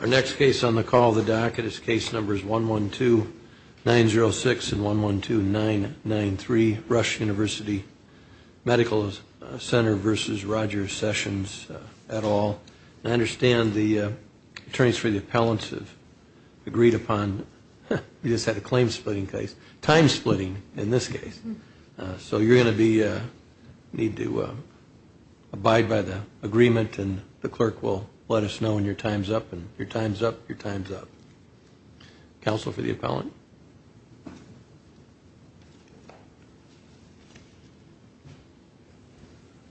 Our next case on the call of the docket is case numbers 112-906 and 112-993 Rush University Medical Center v. Roger Sessions et al. I understand the attorneys for the appellants have agreed upon we just had a claim splitting case, time splitting in this case. So you're going to need to abide by the agreement and the clerk will let us know when your time's up. Your time's up. Your time's up. Counsel for the appellant.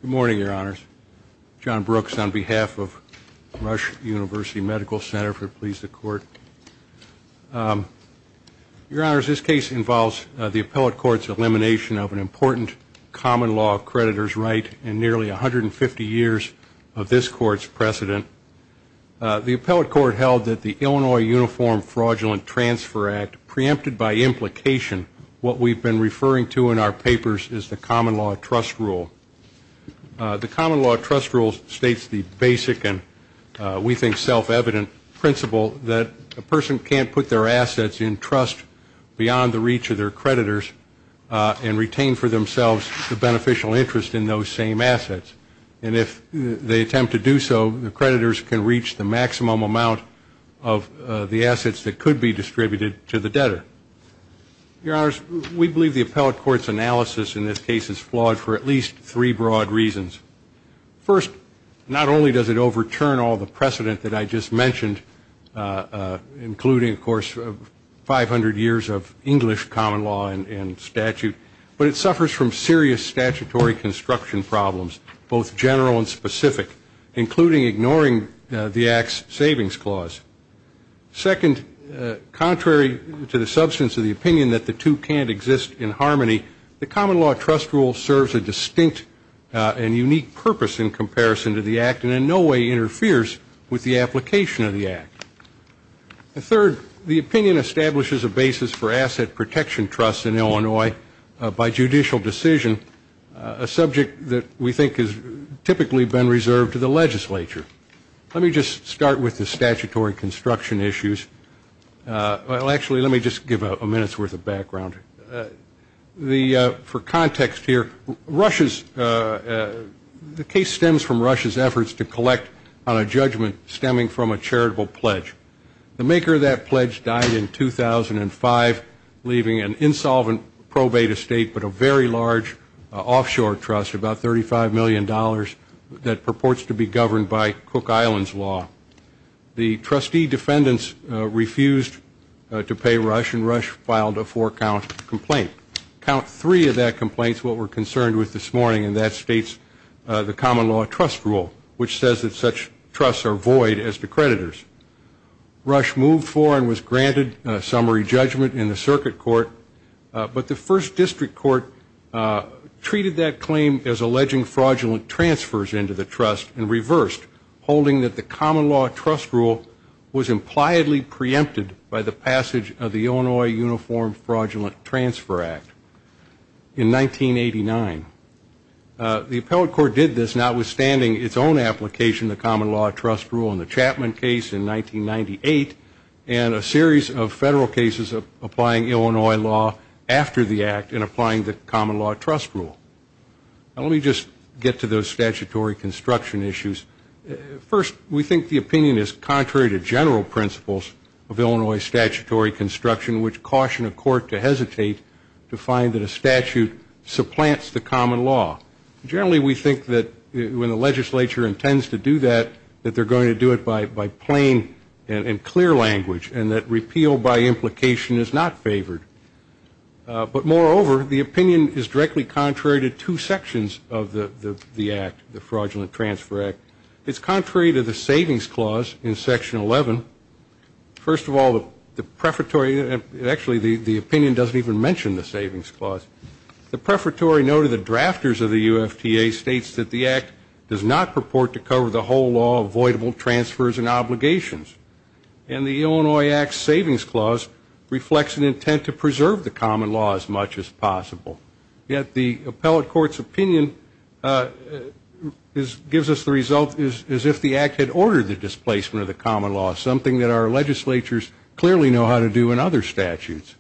Good morning, Your Honors. John Brooks on behalf of Rush University Medical Center, if it pleases the Court. Your Honors, this case involves the appellate court's elimination of an important common law creditor's right in nearly 150 years of this court's precedent. The appellate court held that the Illinois Uniform Fraudulent Transfer Act, preempted by implication, what we've been referring to in our papers is the common law trust rule. The common law trust rule states the basic and we think self-evident principle that a person can't put their assets in trust beyond the reach of their creditors and retain for themselves the beneficial interest in those same assets. And if they attempt to do so, the creditors can reach the maximum amount of the assets that could be distributed to the debtor. Your Honors, we believe the appellate court's analysis in this case is flawed for at least three broad reasons. First, not only does it overturn all the precedent that I just mentioned, including, of course, 500 years of English common law and statute, but it suffers from serious statutory construction problems, both general and specific, including ignoring the Act's savings clause. Second, contrary to the substance of the opinion that the two can't exist in harmony, the common law trust rule serves a distinct and unique purpose in comparison to the Act and in no way interferes with the application of the Act. Third, the opinion establishes a basis for asset protection trusts in Illinois by judicial decision, a subject that we think has typically been reserved to the legislature. Let me just start with the statutory construction issues. Well, actually, let me just give a minute's worth of background. For context here, the case stems from Russia's efforts to collect on a judgment stemming from a charitable pledge. The maker of that pledge died in 2005, leaving an insolvent probate estate but a very large offshore trust, about $35 million, that purports to be governed by Cook Islands law. The trustee defendants refused to pay Rush, and Rush filed a four-count complaint. Count three of that complaint is what we're concerned with this morning, and that states the common law trust rule, which says that such trusts are void as to creditors. Rush moved for and was granted summary judgment in the circuit court, but the first district court treated that claim as alleging fraudulent transfers into the trust and reversed, holding that the common law trust rule was impliedly preempted by the passage of the Illinois Uniform Fraudulent Transfer Act in 1989. The appellate court did this, notwithstanding its own application of the common law trust rule in the Chapman case in 1998 and a series of federal cases applying Illinois law after the act and applying the common law trust rule. Let me just get to those statutory construction issues. First, we think the opinion is contrary to general principles of Illinois statutory construction, which caution a court to hesitate to find that a statute supplants the common law. Generally, we think that when the legislature intends to do that, that they're going to do it by plain and clear language and that repeal by implication is not favored. But moreover, the opinion is directly contrary to two sections of the act, the Fraudulent Transfer Act. It's contrary to the savings clause in Section 11. First of all, the prefatory actually the opinion doesn't even mention the savings clause. The prefatory note of the drafters of the UFTA states that the act does not purport to cover the whole law, avoidable transfers and obligations. And the Illinois Act Savings Clause reflects an intent to preserve the common law as much as possible. Yet the appellate court's opinion gives us the result as if the act had ordered the displacement of the common law, something that our legislatures clearly know how to do in other statutes.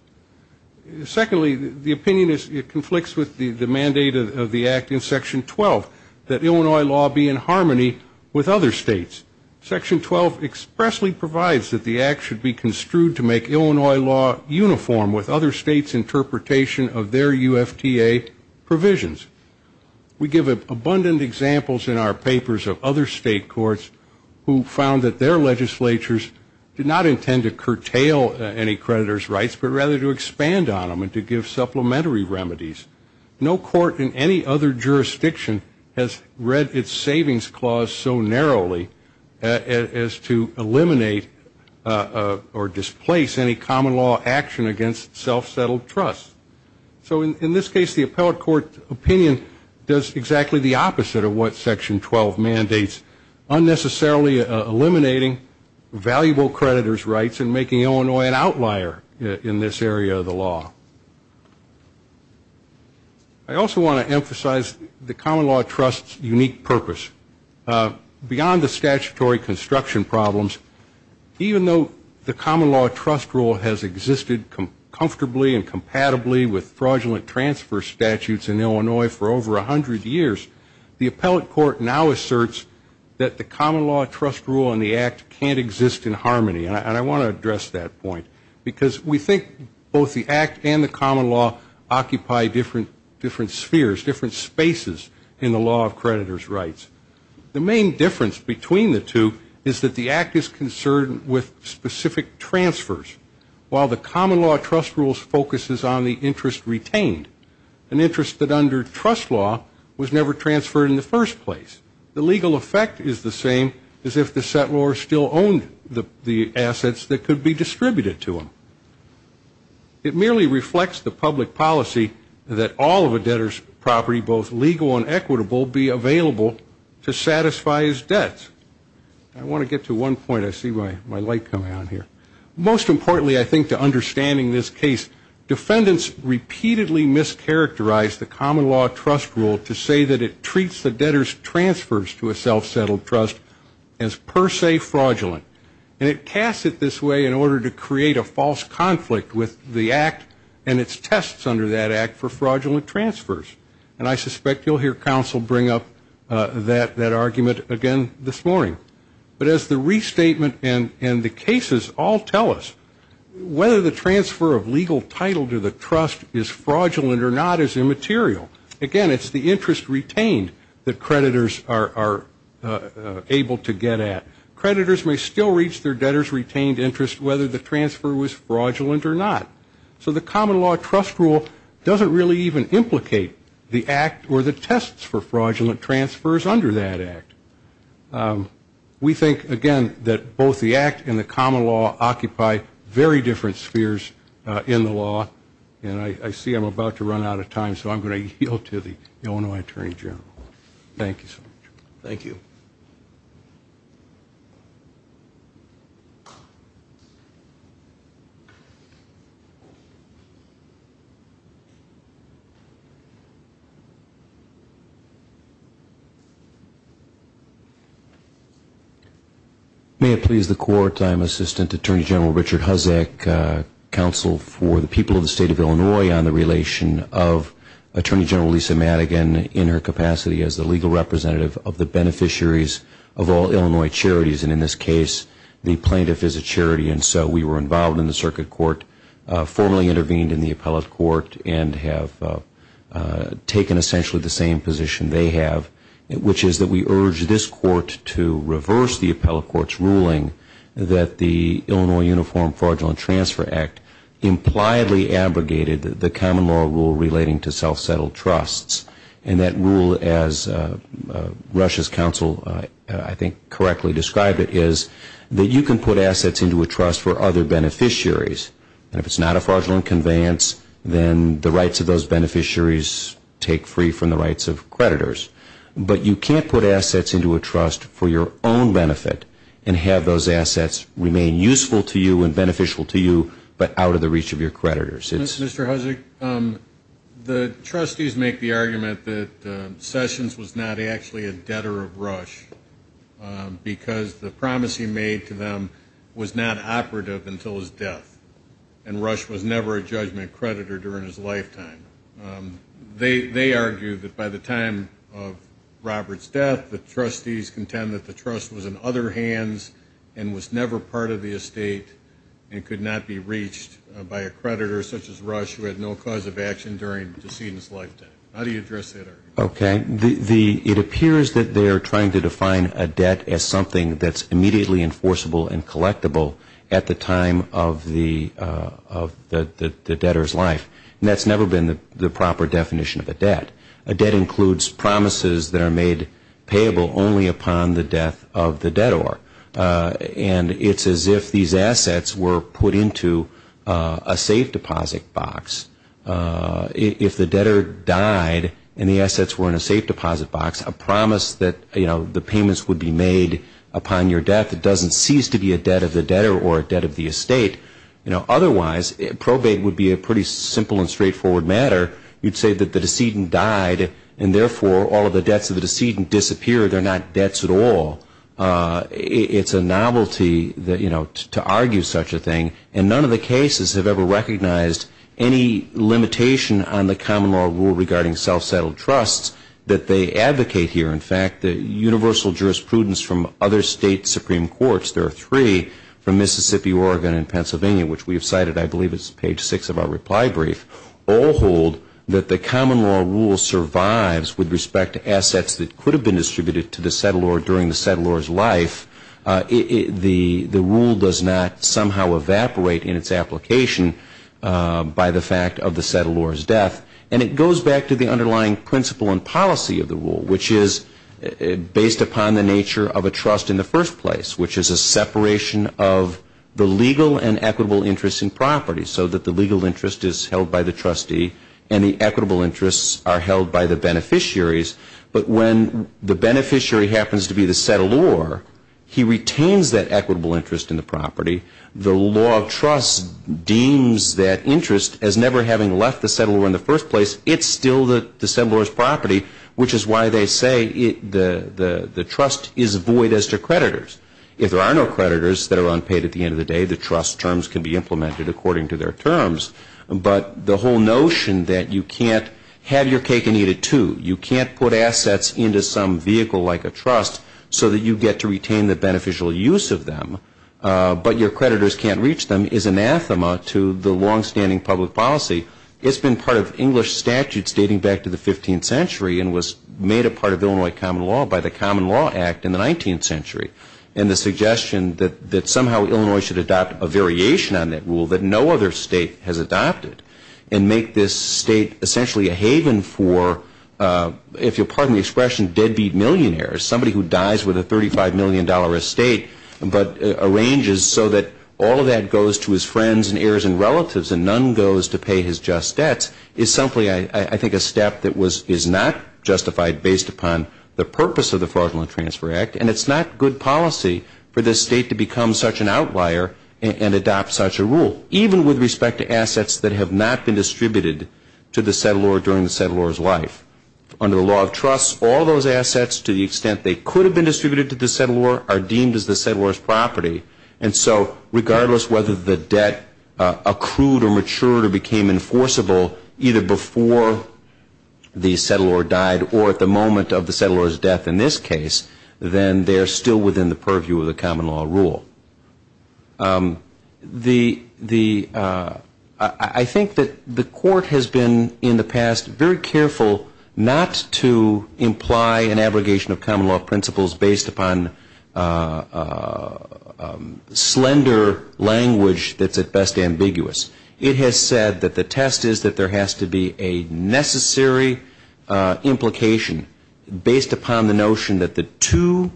Secondly, the opinion conflicts with the mandate of the act in Section 12, that Illinois law be in harmony with other states. Section 12 expressly provides that the act should be construed to make Illinois law uniform with other states' interpretation of their UFTA provisions. We give abundant examples in our papers of other state courts who found that their legislatures did not intend to curtail any creditor's rights, but rather to expand on them and to give supplementary remedies. No court in any other jurisdiction has read its savings clause so narrowly as to eliminate or displace any common law action against self-settled trust. So in this case, the appellate court opinion does exactly the opposite of what Section 12 mandates, unnecessarily eliminating valuable creditor's rights and making Illinois an outlier in this area of the law. I also want to emphasize the common law trust's unique purpose. Beyond the statutory construction problems, even though the common law trust rule has existed comfortably and compatibly with fraudulent transfer statutes in Illinois for over 100 years, the appellate court now asserts that the common law trust rule and the act can't exist in harmony. And I want to address that point, because we think both the act and the common law occupy different spheres, different spaces in the law of creditor's rights. The main difference between the two is that the act is concerned with specific transfers, while the common law trust rule focuses on the interest retained, an interest that under trust law was never transferred in the first place. The legal effect is the same as if the settlor still owned the assets that could be distributed to him. It merely reflects the public policy that all of a debtor's property, both legal and equitable, be available to satisfy his debts. I want to get to one point. I see my light coming on here. Most importantly, I think, to understanding this case, defendants repeatedly mischaracterized the common law trust rule to say that it treats the debtor's transfers to a self-settled trust as per se fraudulent. And it casts it this way in order to create a false conflict with the act and its tests under that act for fraudulent transfers. And I suspect you'll hear counsel bring up that argument again this morning. But as the restatement and the cases all tell us, whether the transfer of legal title to the trust is fraudulent or not is immaterial. Again, it's the interest retained that creditors are able to get at. Creditors may still reach their debtor's retained interest whether the transfer was fraudulent or not. So the common law trust rule doesn't really even implicate the act or the tests for fraudulent transfers under that act. We think, again, that both the act and the common law occupy very different spheres in the law. And I see I'm about to run out of time, so I'm going to yield to the Illinois Attorney General. Thank you so much. Thank you. May it please the Court, I'm Assistant Attorney General Richard Huzik, counsel for the people of the State of Illinois on the relation of Attorney General Lisa Madigan in her capacity as the legal representative of the beneficiaries of all Illinois charities. And in this case, the plaintiff is a charity. And so we were involved in the circuit court, formally intervened in the appellate court, and have taken essentially the same position they have, which is that we urge this court to reverse the appellate court's ruling that the Illinois Uniform Fraudulent Transfer Act impliedly abrogated the common law rule relating to self-settled trusts. And that rule, as Rush's counsel I think correctly described it, is that you can put assets into a trust for other beneficiaries. And if it's not a fraudulent conveyance, then the rights of those beneficiaries take free from the rights of creditors. But you can't put assets into a trust for your own benefit and have those assets remain useful to you and beneficial to you but out of the reach of your creditors. Mr. Huzzick, the trustees make the argument that Sessions was not actually a debtor of Rush because the promise he made to them was not operative until his death, and Rush was never a judgment creditor during his lifetime. They argue that by the time of Robert's death, the trustees contend that the trust was in other hands and was never part of the estate and could not be reached by a creditor such as Rush who had no cause of action during the decedent's lifetime. How do you address that argument? Okay. It appears that they are trying to define a debt as something that's immediately enforceable and collectible at the time of the debtor's life. And that's never been the proper definition of a debt. A debt includes promises that are made payable only upon the death of the debtor. And it's as if these assets were put into a safe deposit box. If the debtor died and the assets were in a safe deposit box, a promise that the payments would be made upon your death doesn't cease to be a debt of the debtor or a debt of the estate. Otherwise, probate would be a pretty simple and straightforward matter. You'd say that the decedent died and, therefore, all of the debts of the decedent disappeared. They're not debts at all. It's a novelty to argue such a thing. And none of the cases have ever recognized any limitation on the common law rule regarding self-settled trusts that they advocate here. In fact, the universal jurisprudence from other state supreme courts, there are three from Mississippi, Oregon, and Pennsylvania, which we have cited, I believe it's page six of our reply brief, all hold that the common law rule survives with respect to assets that could have been distributed to the settlor during the settlor's life. The rule does not somehow evaporate in its application by the fact of the settlor's death. And it goes back to the underlying principle and policy of the rule, which is based upon the nature of a trust in the first place, which is a separation of the legal and equitable interest in property so that the legal interest is held by the trustee and the equitable interests are held by the beneficiaries. But when the beneficiary happens to be the settlor, he retains that equitable interest in the property. The law of trust deems that interest as never having left the settlor in the first place. It's still the settlor's property, which is why they say the trust is void as to creditors. If there are no creditors that are unpaid at the end of the day, the trust terms can be implemented according to their terms. But the whole notion that you can't have your cake and eat it too, you can't put assets into some vehicle like a trust so that you get to retain the beneficial use of them, but your creditors can't reach them is anathema to the longstanding public policy. It's been part of English statutes dating back to the 15th century and was made a part of Illinois common law by the Common Law Act in the 19th century. And the suggestion that somehow Illinois should adopt a variation on that rule that no other state has adopted and make this state essentially a haven for, if you'll pardon the expression, deadbeat millionaires, somebody who dies with a $35 million estate but arranges so that all of that goes to his friends and heirs and relatives and none goes to pay his just debts is simply, I think, a step that is not justified based upon the purpose of the Fraudulent Transfer Act. And it's not good policy for this state to become such an outlier and adopt such a rule, even with respect to assets that have not been distributed to the settlor during the settlor's life. Under the Law of Trusts, all those assets, to the extent they could have been distributed to the settlor, are deemed as the settlor's property. And so regardless whether the debt accrued or matured or became enforceable either before the settlor died or at the moment of the settlor's death in this case, then they are still within the purview of the common law rule. I think that the Court has been in the past very careful not to imply an abrogation of common law principles based upon slender language that's at best ambiguous. It has said that the test is that there has to be a necessary implication based upon the notion that the two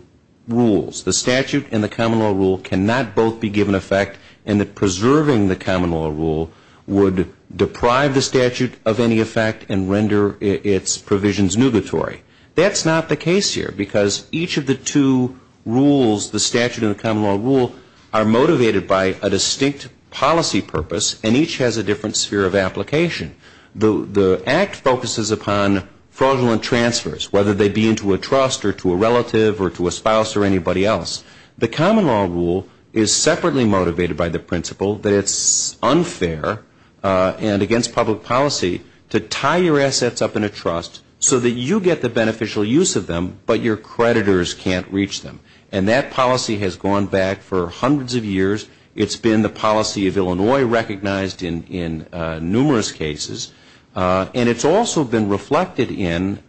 rules, the statute and the common law rule, cannot both be given effect and that preserving the common law rule would deprive the statute of any effect and render its provisions nugatory. That's not the case here because each of the two rules, the statute and the common law rule, are motivated by a distinct policy purpose and each has a different sphere of application. The Act focuses upon fraudulent transfers, whether they be into a trust or to a relative or to a spouse or anybody else. The common law rule is separately motivated by the principle that it's unfair and against public policy to tie your assets up in a trust so that you get the beneficial use of them but your creditors can't reach them. And that policy has gone back for hundreds of years. It's been the policy of Illinois recognized in numerous cases. And it's also been reflected in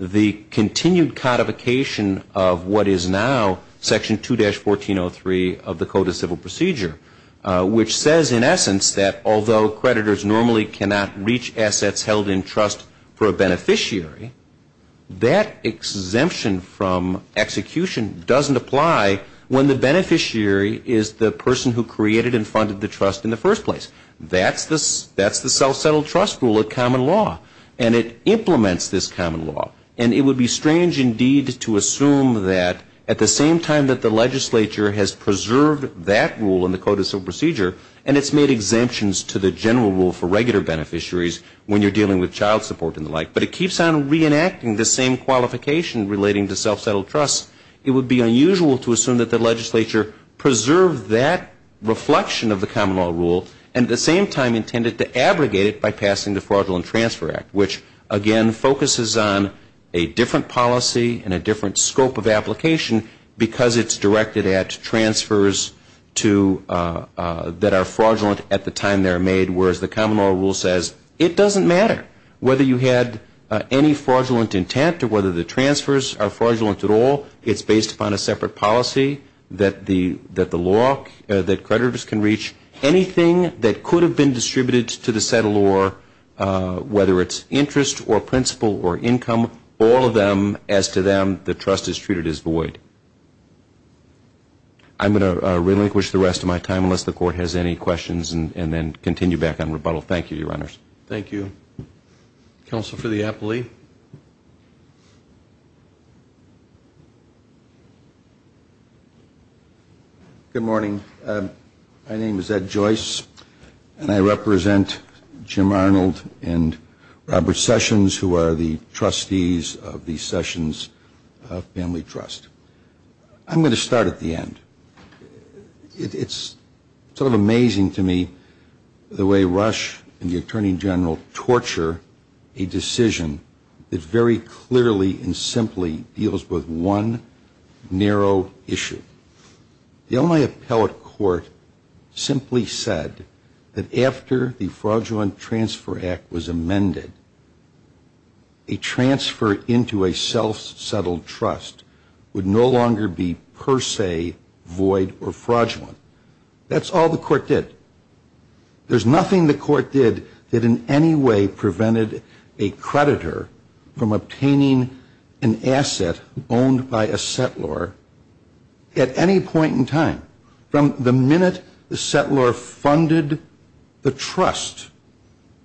the continued codification of what is now Section 2-1403 of the Code of Civil Procedure, which says in essence that although creditors normally cannot reach assets held in trust for a beneficiary, that exemption from execution doesn't apply when the beneficiary is the person who created and funded the trust in the first place. That's the self-settled trust rule of common law. And it implements this common law. And it would be strange indeed to assume that at the same time that the legislature has preserved that rule in the Code of Civil Procedure and it's made exemptions to the general rule for regular beneficiaries when you're dealing with child support and the like, but it keeps on reenacting the same qualification relating to self-settled trust. It would be unusual to assume that the legislature preserved that reflection of the common law rule and at the same time intended to abrogate it by passing the Fraudulent Transfer Act, which again focuses on a different policy and a different scope of application because it's directed at transfers that are fraudulent at the time they're made, whereas the common law rule says it doesn't matter whether you had any fraudulent intent or whether the transfers are fraudulent at all. It's based upon a separate policy that the law, that creditors can reach. Anything that could have been distributed to the settlor, whether it's interest or principal or income, all of them as to them the trust is treated as void. I'm going to relinquish the rest of my time unless the Court has any questions and then continue back on rebuttal. Thank you, Your Honors. Thank you. Counsel for the appellee. Good morning. My name is Ed Joyce, and I represent Jim Arnold and Robert Sessions, who are the trustees of the Sessions Family Trust. I'm going to start at the end. It's sort of amazing to me the way Rush and the Attorney General torture a decision that very clearly and simply deals with one narrow issue. The only appellate court simply said that after the Fraudulent Transfer Act was amended, a transfer into a self-settled trust would no longer be per se void or fraudulent. That's all the court did. There's nothing the court did that in any way prevented a creditor from obtaining an asset owned by a settlor at any point in time. From the minute the settlor funded the trust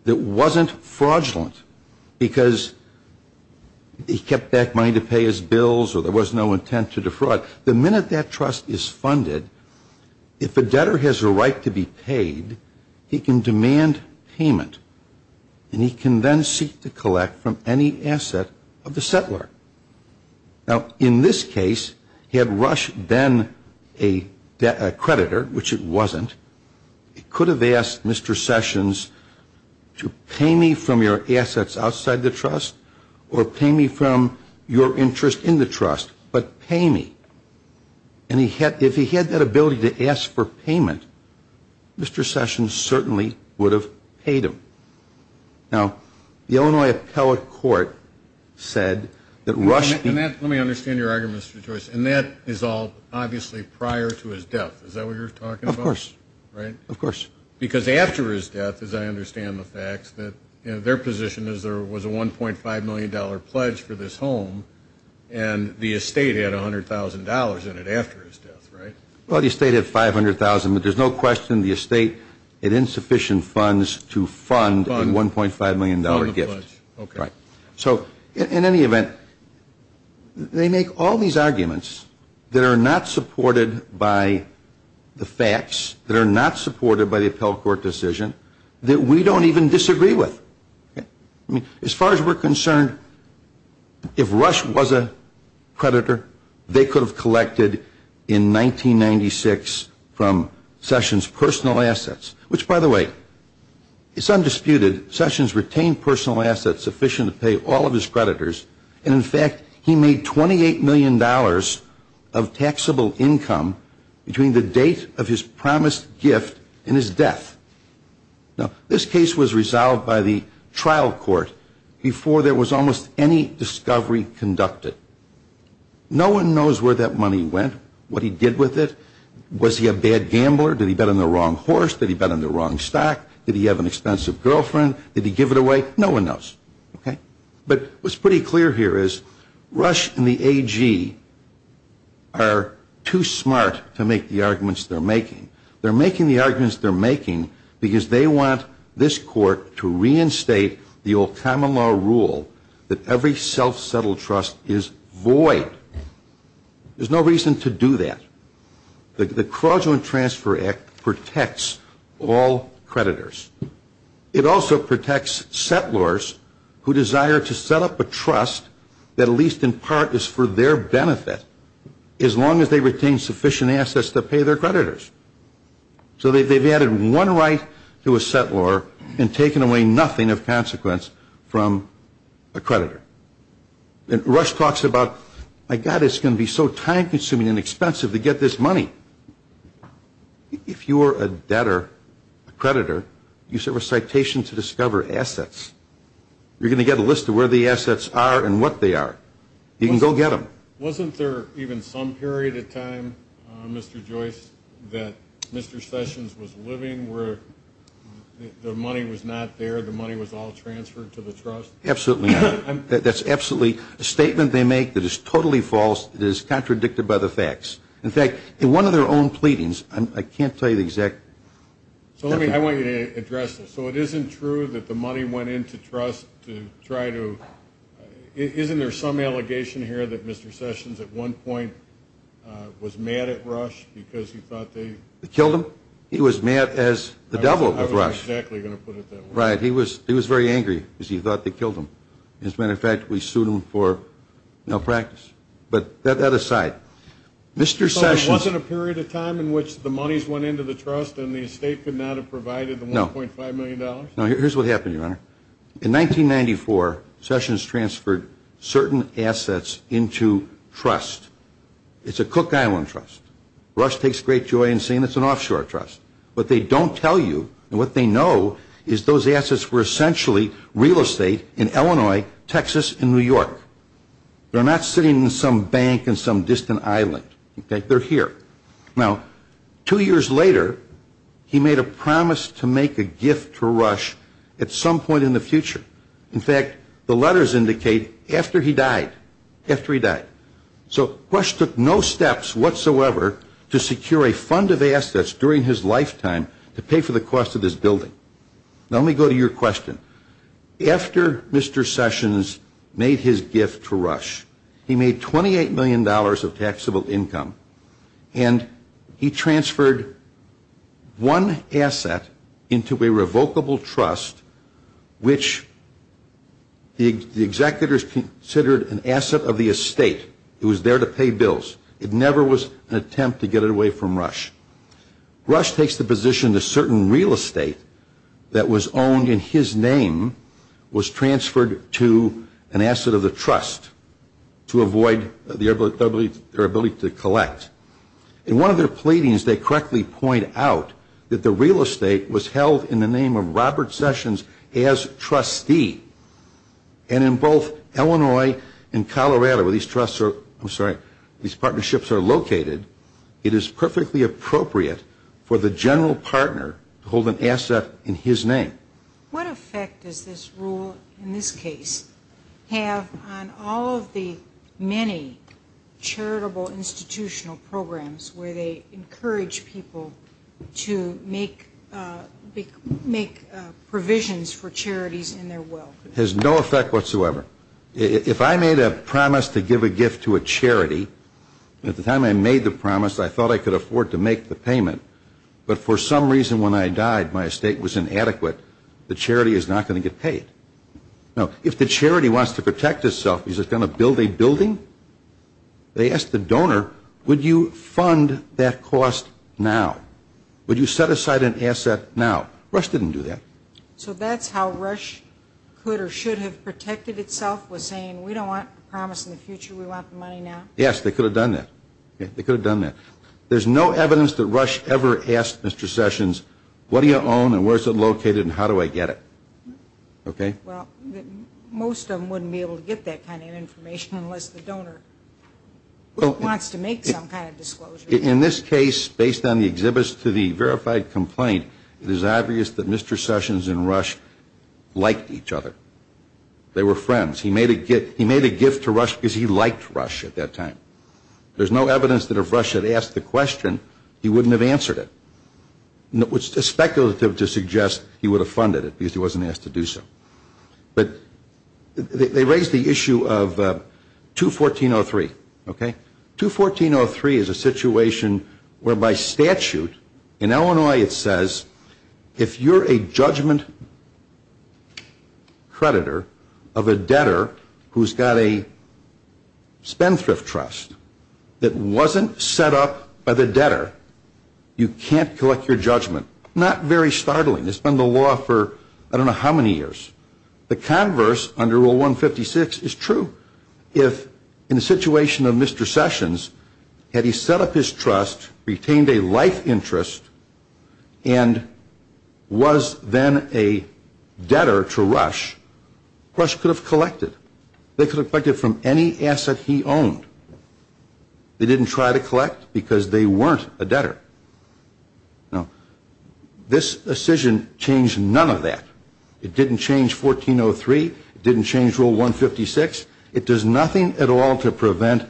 that wasn't fraudulent because he kept back money to pay his bills or there was no intent to defraud, the minute that trust is funded, if a debtor has a right to be paid, he can demand payment, and he can then seek to collect from any asset of the settlor. Now, in this case, had Rush been a creditor, which it wasn't, he could have asked Mr. Sessions to pay me from your assets outside the trust or pay me from your interest in the trust, but pay me. And if he had that ability to ask for payment, Mr. Sessions certainly would have paid him. Now, the Illinois appellate court said that Rush Let me understand your argument, Mr. Joyce. And that is all obviously prior to his death. Is that what you're talking about? Of course. Right? Of course. Because after his death, as I understand the facts, their position was there was a $1.5 million pledge for this home, and the estate had $100,000 in it after his death, right? Well, the estate had $500,000. But there's no question the estate had insufficient funds to fund a $1.5 million gift. Okay. So, in any event, they make all these arguments that are not supported by the facts, that are not supported by the appellate court decision, that we don't even disagree with. As far as we're concerned, if Rush was a creditor, they could have collected in 1996 from Sessions personal assets, which, by the way, is undisputed. Sessions retained personal assets sufficient to pay all of his creditors. And, in fact, he made $28 million of taxable income between the date of his promised gift and his death. Now, this case was resolved by the trial court before there was almost any discovery conducted. No one knows where that money went, what he did with it. Was he a bad gambler? Did he bet on the wrong horse? Did he bet on the wrong stock? Did he have an expensive girlfriend? Did he give it away? No one knows. Okay. But what's pretty clear here is Rush and the AG are too smart to make the arguments they're making. They're making the arguments they're making because they want this court to reinstate the old common law rule that every self-settled trust is void. There's no reason to do that. The Corrosion Transfer Act protects all creditors. It also protects settlors who desire to set up a trust that at least in part is for their benefit as long as they retain sufficient assets to pay their creditors. So they've added one right to a settlor and taken away nothing of consequence from a creditor. And Rush talks about, my God, it's going to be so time-consuming and expensive to get this money. If you're a debtor, a creditor, you serve a citation to discover assets. You're going to get a list of where the assets are and what they are. You can go get them. Wasn't there even some period of time, Mr. Joyce, that Mr. Sessions was living where the money was not there, the money was all transferred to the trust? Absolutely not. That's absolutely a statement they make that is totally false. It is contradicted by the facts. In fact, in one of their own pleadings, I can't tell you the exact. So let me, I want you to address this. So it isn't true that the money went into trust to try to, Isn't there some allegation here that Mr. Sessions at one point was mad at Rush because he thought they Killed him? He was mad as the devil at Rush. I was exactly going to put it that way. Right. He was very angry because he thought they killed him. As a matter of fact, we sued him for malpractice. But that aside, Mr. Sessions So there wasn't a period of time in which the monies went into the trust and the estate could not have provided the $1.5 million? No. Here's what happened, Your Honor. In 1994, Sessions transferred certain assets into trust. It's a Cook Island trust. Rush takes great joy in saying it's an offshore trust. What they don't tell you and what they know is those assets were essentially real estate in Illinois, Texas, and New York. They're not sitting in some bank in some distant island. They're here. Now, two years later, he made a promise to make a gift to Rush at some point in the future. In fact, the letters indicate after he died. After he died. So Rush took no steps whatsoever to secure a fund of assets during his lifetime to pay for the cost of this building. Now, let me go to your question. After Mr. Sessions made his gift to Rush, he made $28 million of taxable income. And he transferred one asset into a revocable trust, which the executors considered an asset of the estate. It was there to pay bills. It never was an attempt to get it away from Rush. Rush takes the position that certain real estate that was owned in his name was transferred to an asset of the trust to avoid their ability to collect. In one of their pleadings, they correctly point out that the real estate was held in the name of Robert Sessions as trustee. And in both Illinois and Colorado, where these partnerships are located, it is perfectly appropriate for the general partner to hold an asset in his name. What effect does this rule in this case have on all of the many charitable institutional programs where they encourage people to make provisions for charities in their will? It has no effect whatsoever. If I made a promise to give a gift to a charity, at the time I made the promise, I thought I could afford to make the payment. But for some reason, when I died, my estate was inadequate. The charity is not going to get paid. Now, if the charity wants to protect itself, is it going to build a building? They asked the donor, would you fund that cost now? Would you set aside an asset now? Rush didn't do that. So that's how Rush could or should have protected itself, was saying, we don't want the promise in the future. We want the money now. Yes, they could have done that. They could have done that. There's no evidence that Rush ever asked Mr. Sessions, what do you own and where is it located and how do I get it? Okay? Well, most of them wouldn't be able to get that kind of information unless the donor wants to make some kind of disclosure. In this case, based on the exhibits to the verified complaint, it is obvious that Mr. Sessions and Rush liked each other. They were friends. He made a gift to Rush because he liked Rush at that time. There's no evidence that if Rush had asked the question, he wouldn't have answered it. It's speculative to suggest he would have funded it because he wasn't asked to do so. But they raised the issue of 214.03. Okay? that wasn't set up by the debtor, you can't collect your judgment. Not very startling. It's been the law for I don't know how many years. The converse under Rule 156 is true. If in the situation of Mr. Sessions, had he set up his trust, retained a life interest, and was then a debtor to Rush, Rush could have collected. They could have collected from any asset he owned. They didn't try to collect because they weren't a debtor. Now, this decision changed none of that. It didn't change 1403. It didn't change Rule 156. It does nothing at all to prevent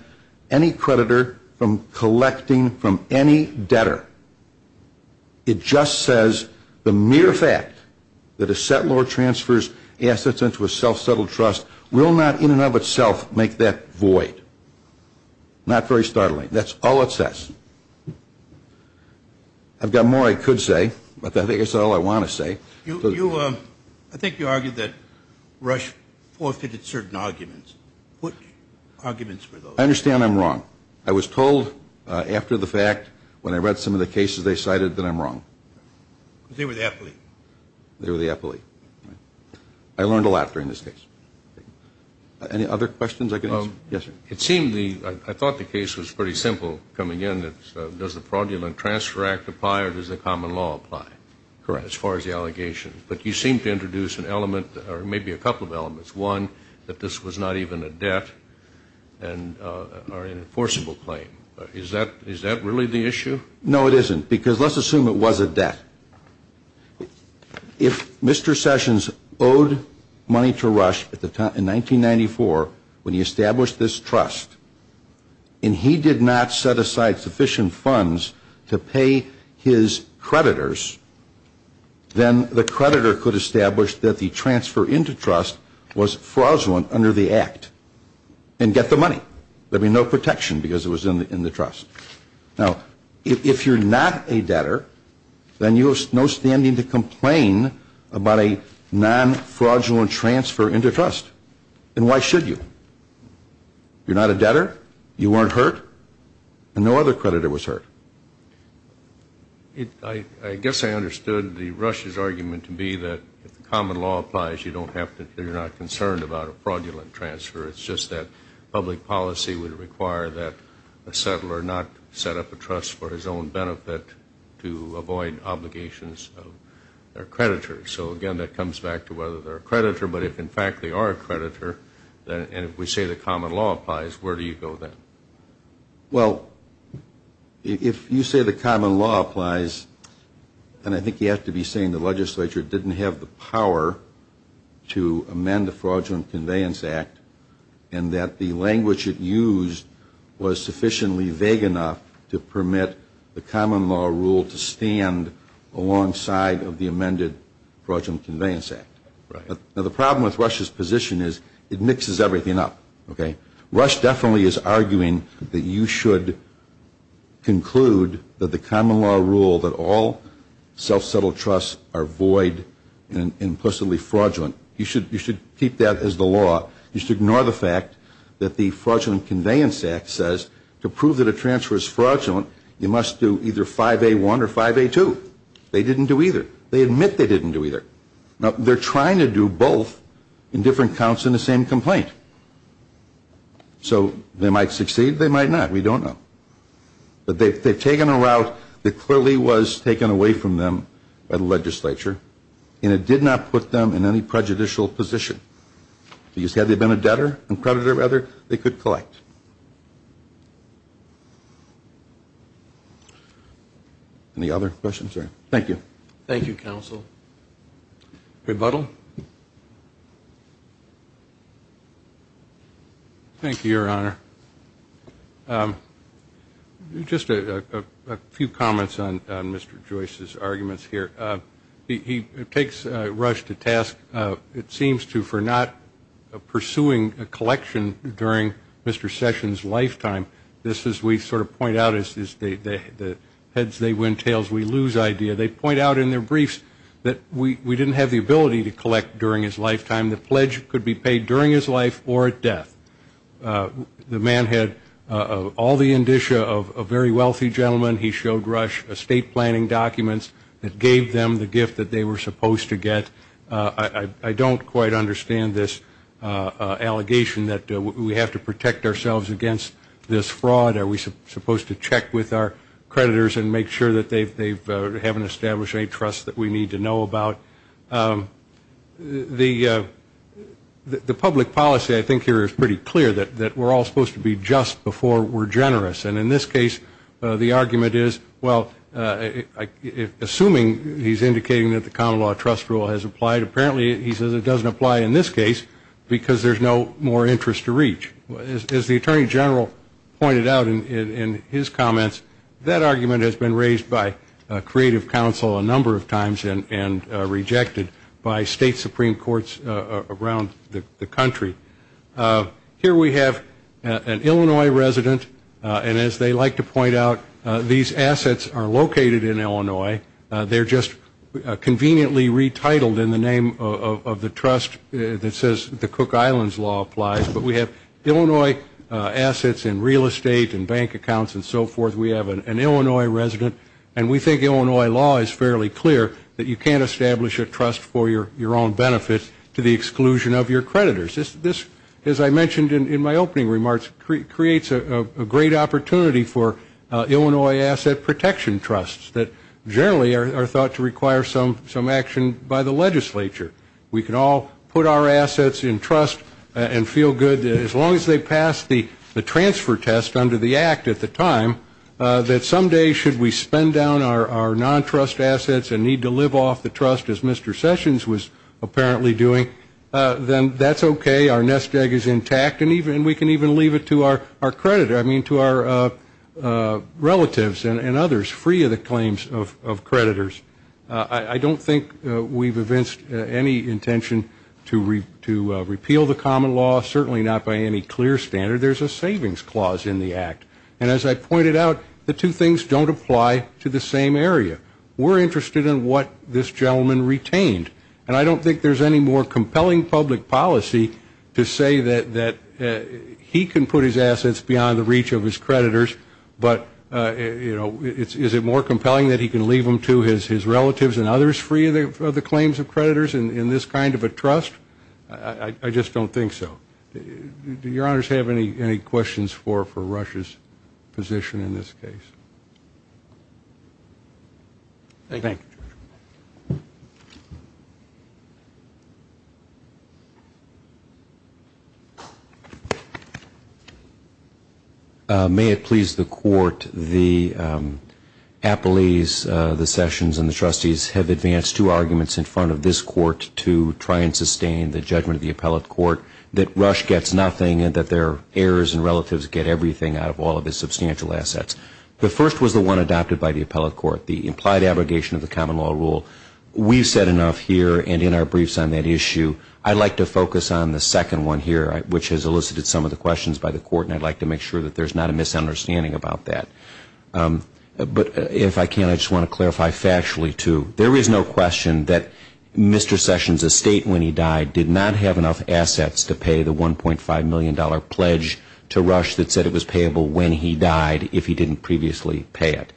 any creditor from collecting from any debtor. It just says the mere fact that a settlor transfers assets into a self-settled trust will not in and of itself make that void. Not very startling. That's all it says. I've got more I could say, but I think that's all I want to say. I think you argued that Rush forfeited certain arguments. What arguments were those? I understand I'm wrong. I was told after the fact, when I read some of the cases they cited, that I'm wrong. They were the affiliate. They were the affiliate. I learned a lot during this case. Any other questions I could answer? Yes, sir. It seemed the ‑‑ I thought the case was pretty simple coming in. Does the Fraudulent Transfer Act apply or does the common law apply as far as the allegations? But you seemed to introduce an element or maybe a couple of elements. One, that this was not even a debt or an enforceable claim. Is that really the issue? No, it isn't because let's assume it was a debt. If Mr. Sessions owed money to Rush in 1994 when he established this trust and he did not set aside sufficient funds to pay his creditors, then the creditor could establish that the transfer into trust was fraudulent under the act and get the money. There'd be no protection because it was in the trust. Now, if you're not a debtor, then you have no standing to complain about a non‑fraudulent transfer into trust. And why should you? You're not a debtor, you weren't hurt, and no other creditor was hurt. I guess I understood the Rush's argument to be that if the common law applies, you're not concerned about a fraudulent transfer. It's just that public policy would require that a settler not set up a trust for his own benefit to avoid obligations of their creditor. So, again, that comes back to whether they're a creditor. But if, in fact, they are a creditor, and if we say the common law applies, where do you go then? Well, if you say the common law applies, then I think you have to be saying the legislature didn't have the power to amend the Fraudulent Conveyance Act and that the language it used was sufficiently vague enough to permit the common law rule to stand alongside of the amended Fraudulent Conveyance Act. Now, the problem with Rush's position is it mixes everything up. Rush definitely is arguing that you should conclude that the common law rule, that all self-settled trusts are void and implicitly fraudulent. You should keep that as the law. You should ignore the fact that the Fraudulent Conveyance Act says to prove that a transfer is fraudulent, you must do either 5A1 or 5A2. They didn't do either. They admit they didn't do either. Now, they're trying to do both in different counts in the same complaint. So they might succeed, they might not. We don't know. But they've taken a route that clearly was taken away from them by the legislature, and it did not put them in any prejudicial position. Because had they been a debtor, a creditor rather, they could collect. Any other questions? Thank you. Thank you, Counsel. Rebuttal? Thank you, Your Honor. Just a few comments on Mr. Joyce's arguments here. He takes Rush to task, it seems to, for not pursuing a collection during Mr. Sessions' lifetime. This, as we sort of point out, is the heads, they win, tails, we lose idea. They point out in their briefs that we didn't have the ability to collect during his lifetime. The pledge could be paid during his life or at death. The man had all the indicia of a very wealthy gentleman. He showed Rush estate planning documents that gave them the gift that they were supposed to get. I don't quite understand this allegation that we have to protect ourselves against this fraud. Are we supposed to check with our creditors and make sure that they haven't established any trust that we need to know about? The public policy, I think, here is pretty clear that we're all supposed to be just before we're generous. And in this case, the argument is, well, assuming he's indicating that the common law trust rule has applied, apparently he says it doesn't apply in this case because there's no more interest to reach. As the Attorney General pointed out in his comments, that argument has been raised by creative counsel a number of times and rejected by state supreme courts around the country. Here we have an Illinois resident, and as they like to point out, these assets are located in Illinois. They're just conveniently retitled in the name of the trust that says the Cook Islands law applies. But we have Illinois assets in real estate and bank accounts and so forth. We have an Illinois resident. And we think Illinois law is fairly clear that you can't establish a trust for your own benefit to the exclusion of your creditors. This, as I mentioned in my opening remarks, creates a great opportunity for Illinois asset protection trusts that generally are thought to require some action by the legislature. We can all put our assets in trust and feel good that as long as they pass the transfer test under the act at the time, that some day should we spend down our non-trust assets and need to live off the trust, as Mr. Sessions was apparently doing, then that's okay. Our nest egg is intact. And we can even leave it to our creditor, I mean to our relatives and others, free of the claims of creditors. I don't think we've evinced any intention to repeal the common law, certainly not by any clear standard. There's a savings clause in the act. And as I pointed out, the two things don't apply to the same area. We're interested in what this gentleman retained. And I don't think there's any more compelling public policy to say that he can put his assets beyond the reach of his creditors, but is it more compelling that he can leave them to his relatives and others free of the claims of creditors in this kind of a trust? I just don't think so. Do your honors have any questions for Rush's position in this case? Thank you. May it please the Court, the Appellees, the Sessions, and the Trustees have advanced two arguments in front of this Court to try and sustain the judgment of the appellate court that Rush gets nothing and that their heirs and relatives get everything out of all of his substantial assets. The first was the one adopted by the appellate court, the implied abrogation of the common law. We've said enough here and in our briefs on that issue. I'd like to focus on the second one here, which has elicited some of the questions by the Court, and I'd like to make sure that there's not a misunderstanding about that. But if I can, I just want to clarify factually, too, there is no question that Mr. Sessions' estate when he died did not have enough assets to pay the $1.5 million pledge to Rush that said it was payable when he died if he didn't previously pay it.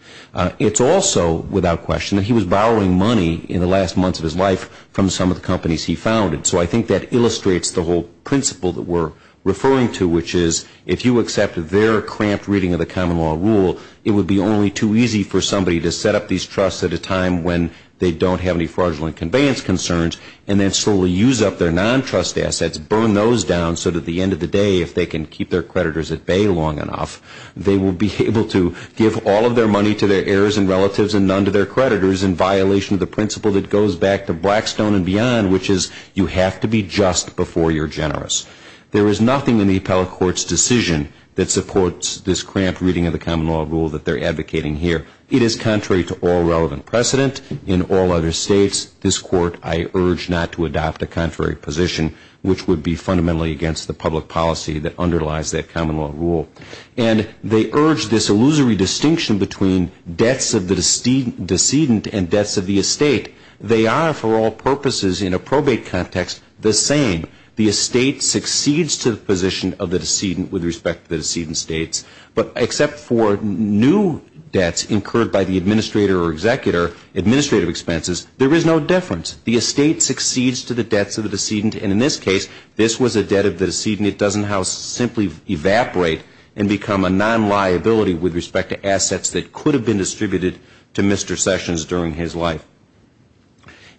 It's also without question that he was borrowing money in the last months of his life from some of the companies he founded. So I think that illustrates the whole principle that we're referring to, which is if you accept their cramped reading of the common law rule, it would be only too easy for somebody to set up these trusts at a time when they don't have any fraudulent conveyance concerns and then slowly use up their non-trust assets, burn those down, so that at the end of the day if they can keep their creditors at bay long enough, they will be able to give all of their money to their heirs and relatives and none to their creditors in violation of the principle that goes back to Blackstone and beyond, which is you have to be just before you're generous. There is nothing in the Appellate Court's decision that supports this cramped reading of the common law rule that they're advocating here. It is contrary to all relevant precedent in all other states. This Court, I urge not to adopt a contrary position, which would be fundamentally against the public policy that underlies that common law rule. And they urge this illusory distinction between debts of the decedent and debts of the estate. They are for all purposes in a probate context the same. The estate succeeds to the position of the decedent with respect to the decedent states, but except for new debts incurred by the administrator or executor, administrative expenses, there is no difference. The estate succeeds to the debts of the decedent, and in this case, this was a debt of the decedent. And it doesn't simply evaporate and become a non-liability with respect to assets that could have been distributed to Mr. Sessions during his life.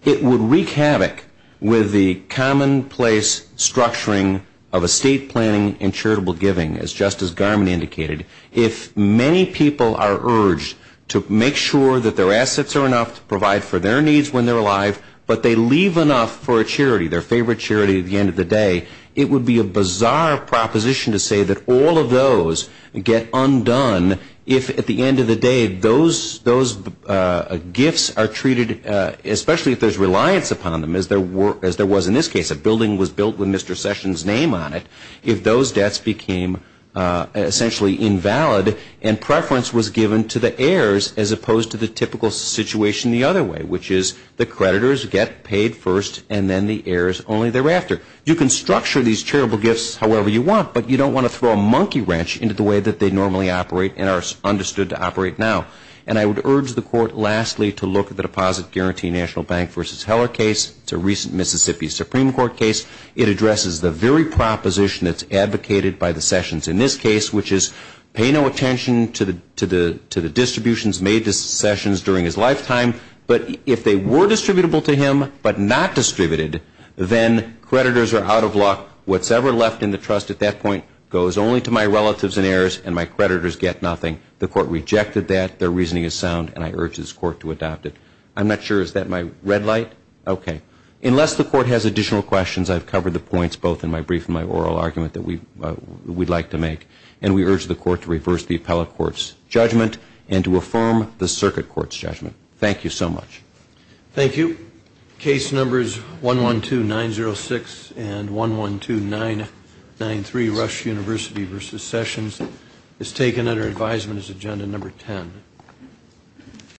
It would wreak havoc with the commonplace structuring of estate planning and charitable giving, as Justice Garmon indicated. If many people are urged to make sure that their assets are enough to provide for their needs when they're alive, but they leave enough for a charity, their favorite charity at the end of the day, it would be a bizarre proposition to say that all of those get undone if, at the end of the day, those gifts are treated, especially if there's reliance upon them, as there was in this case. A building was built with Mr. Sessions' name on it. If those debts became essentially invalid and preference was given to the heirs as opposed to the typical situation the other way, which is the creditors get paid first and then the heirs only thereafter. You can structure these charitable gifts however you want, but you don't want to throw a monkey wrench into the way that they normally operate and are understood to operate now. And I would urge the Court, lastly, to look at the Deposit Guarantee National Bank v. Heller case. It's a recent Mississippi Supreme Court case. It addresses the very proposition that's advocated by the Sessions in this case, which is pay no attention to the distributions made to Sessions during his lifetime, but if they were distributable to him but not distributed, then creditors are out of luck. What's ever left in the trust at that point goes only to my relatives and heirs, and my creditors get nothing. The Court rejected that. Their reasoning is sound, and I urge this Court to adopt it. I'm not sure. Is that my red light? Okay. Unless the Court has additional questions, I've covered the points both in my brief and my oral argument that we'd like to make, and to affirm the circuit court's judgment. Thank you so much. Thank you. Case numbers 112906 and 112993, Rush University v. Sessions, is taken under advisement as agenda number 10.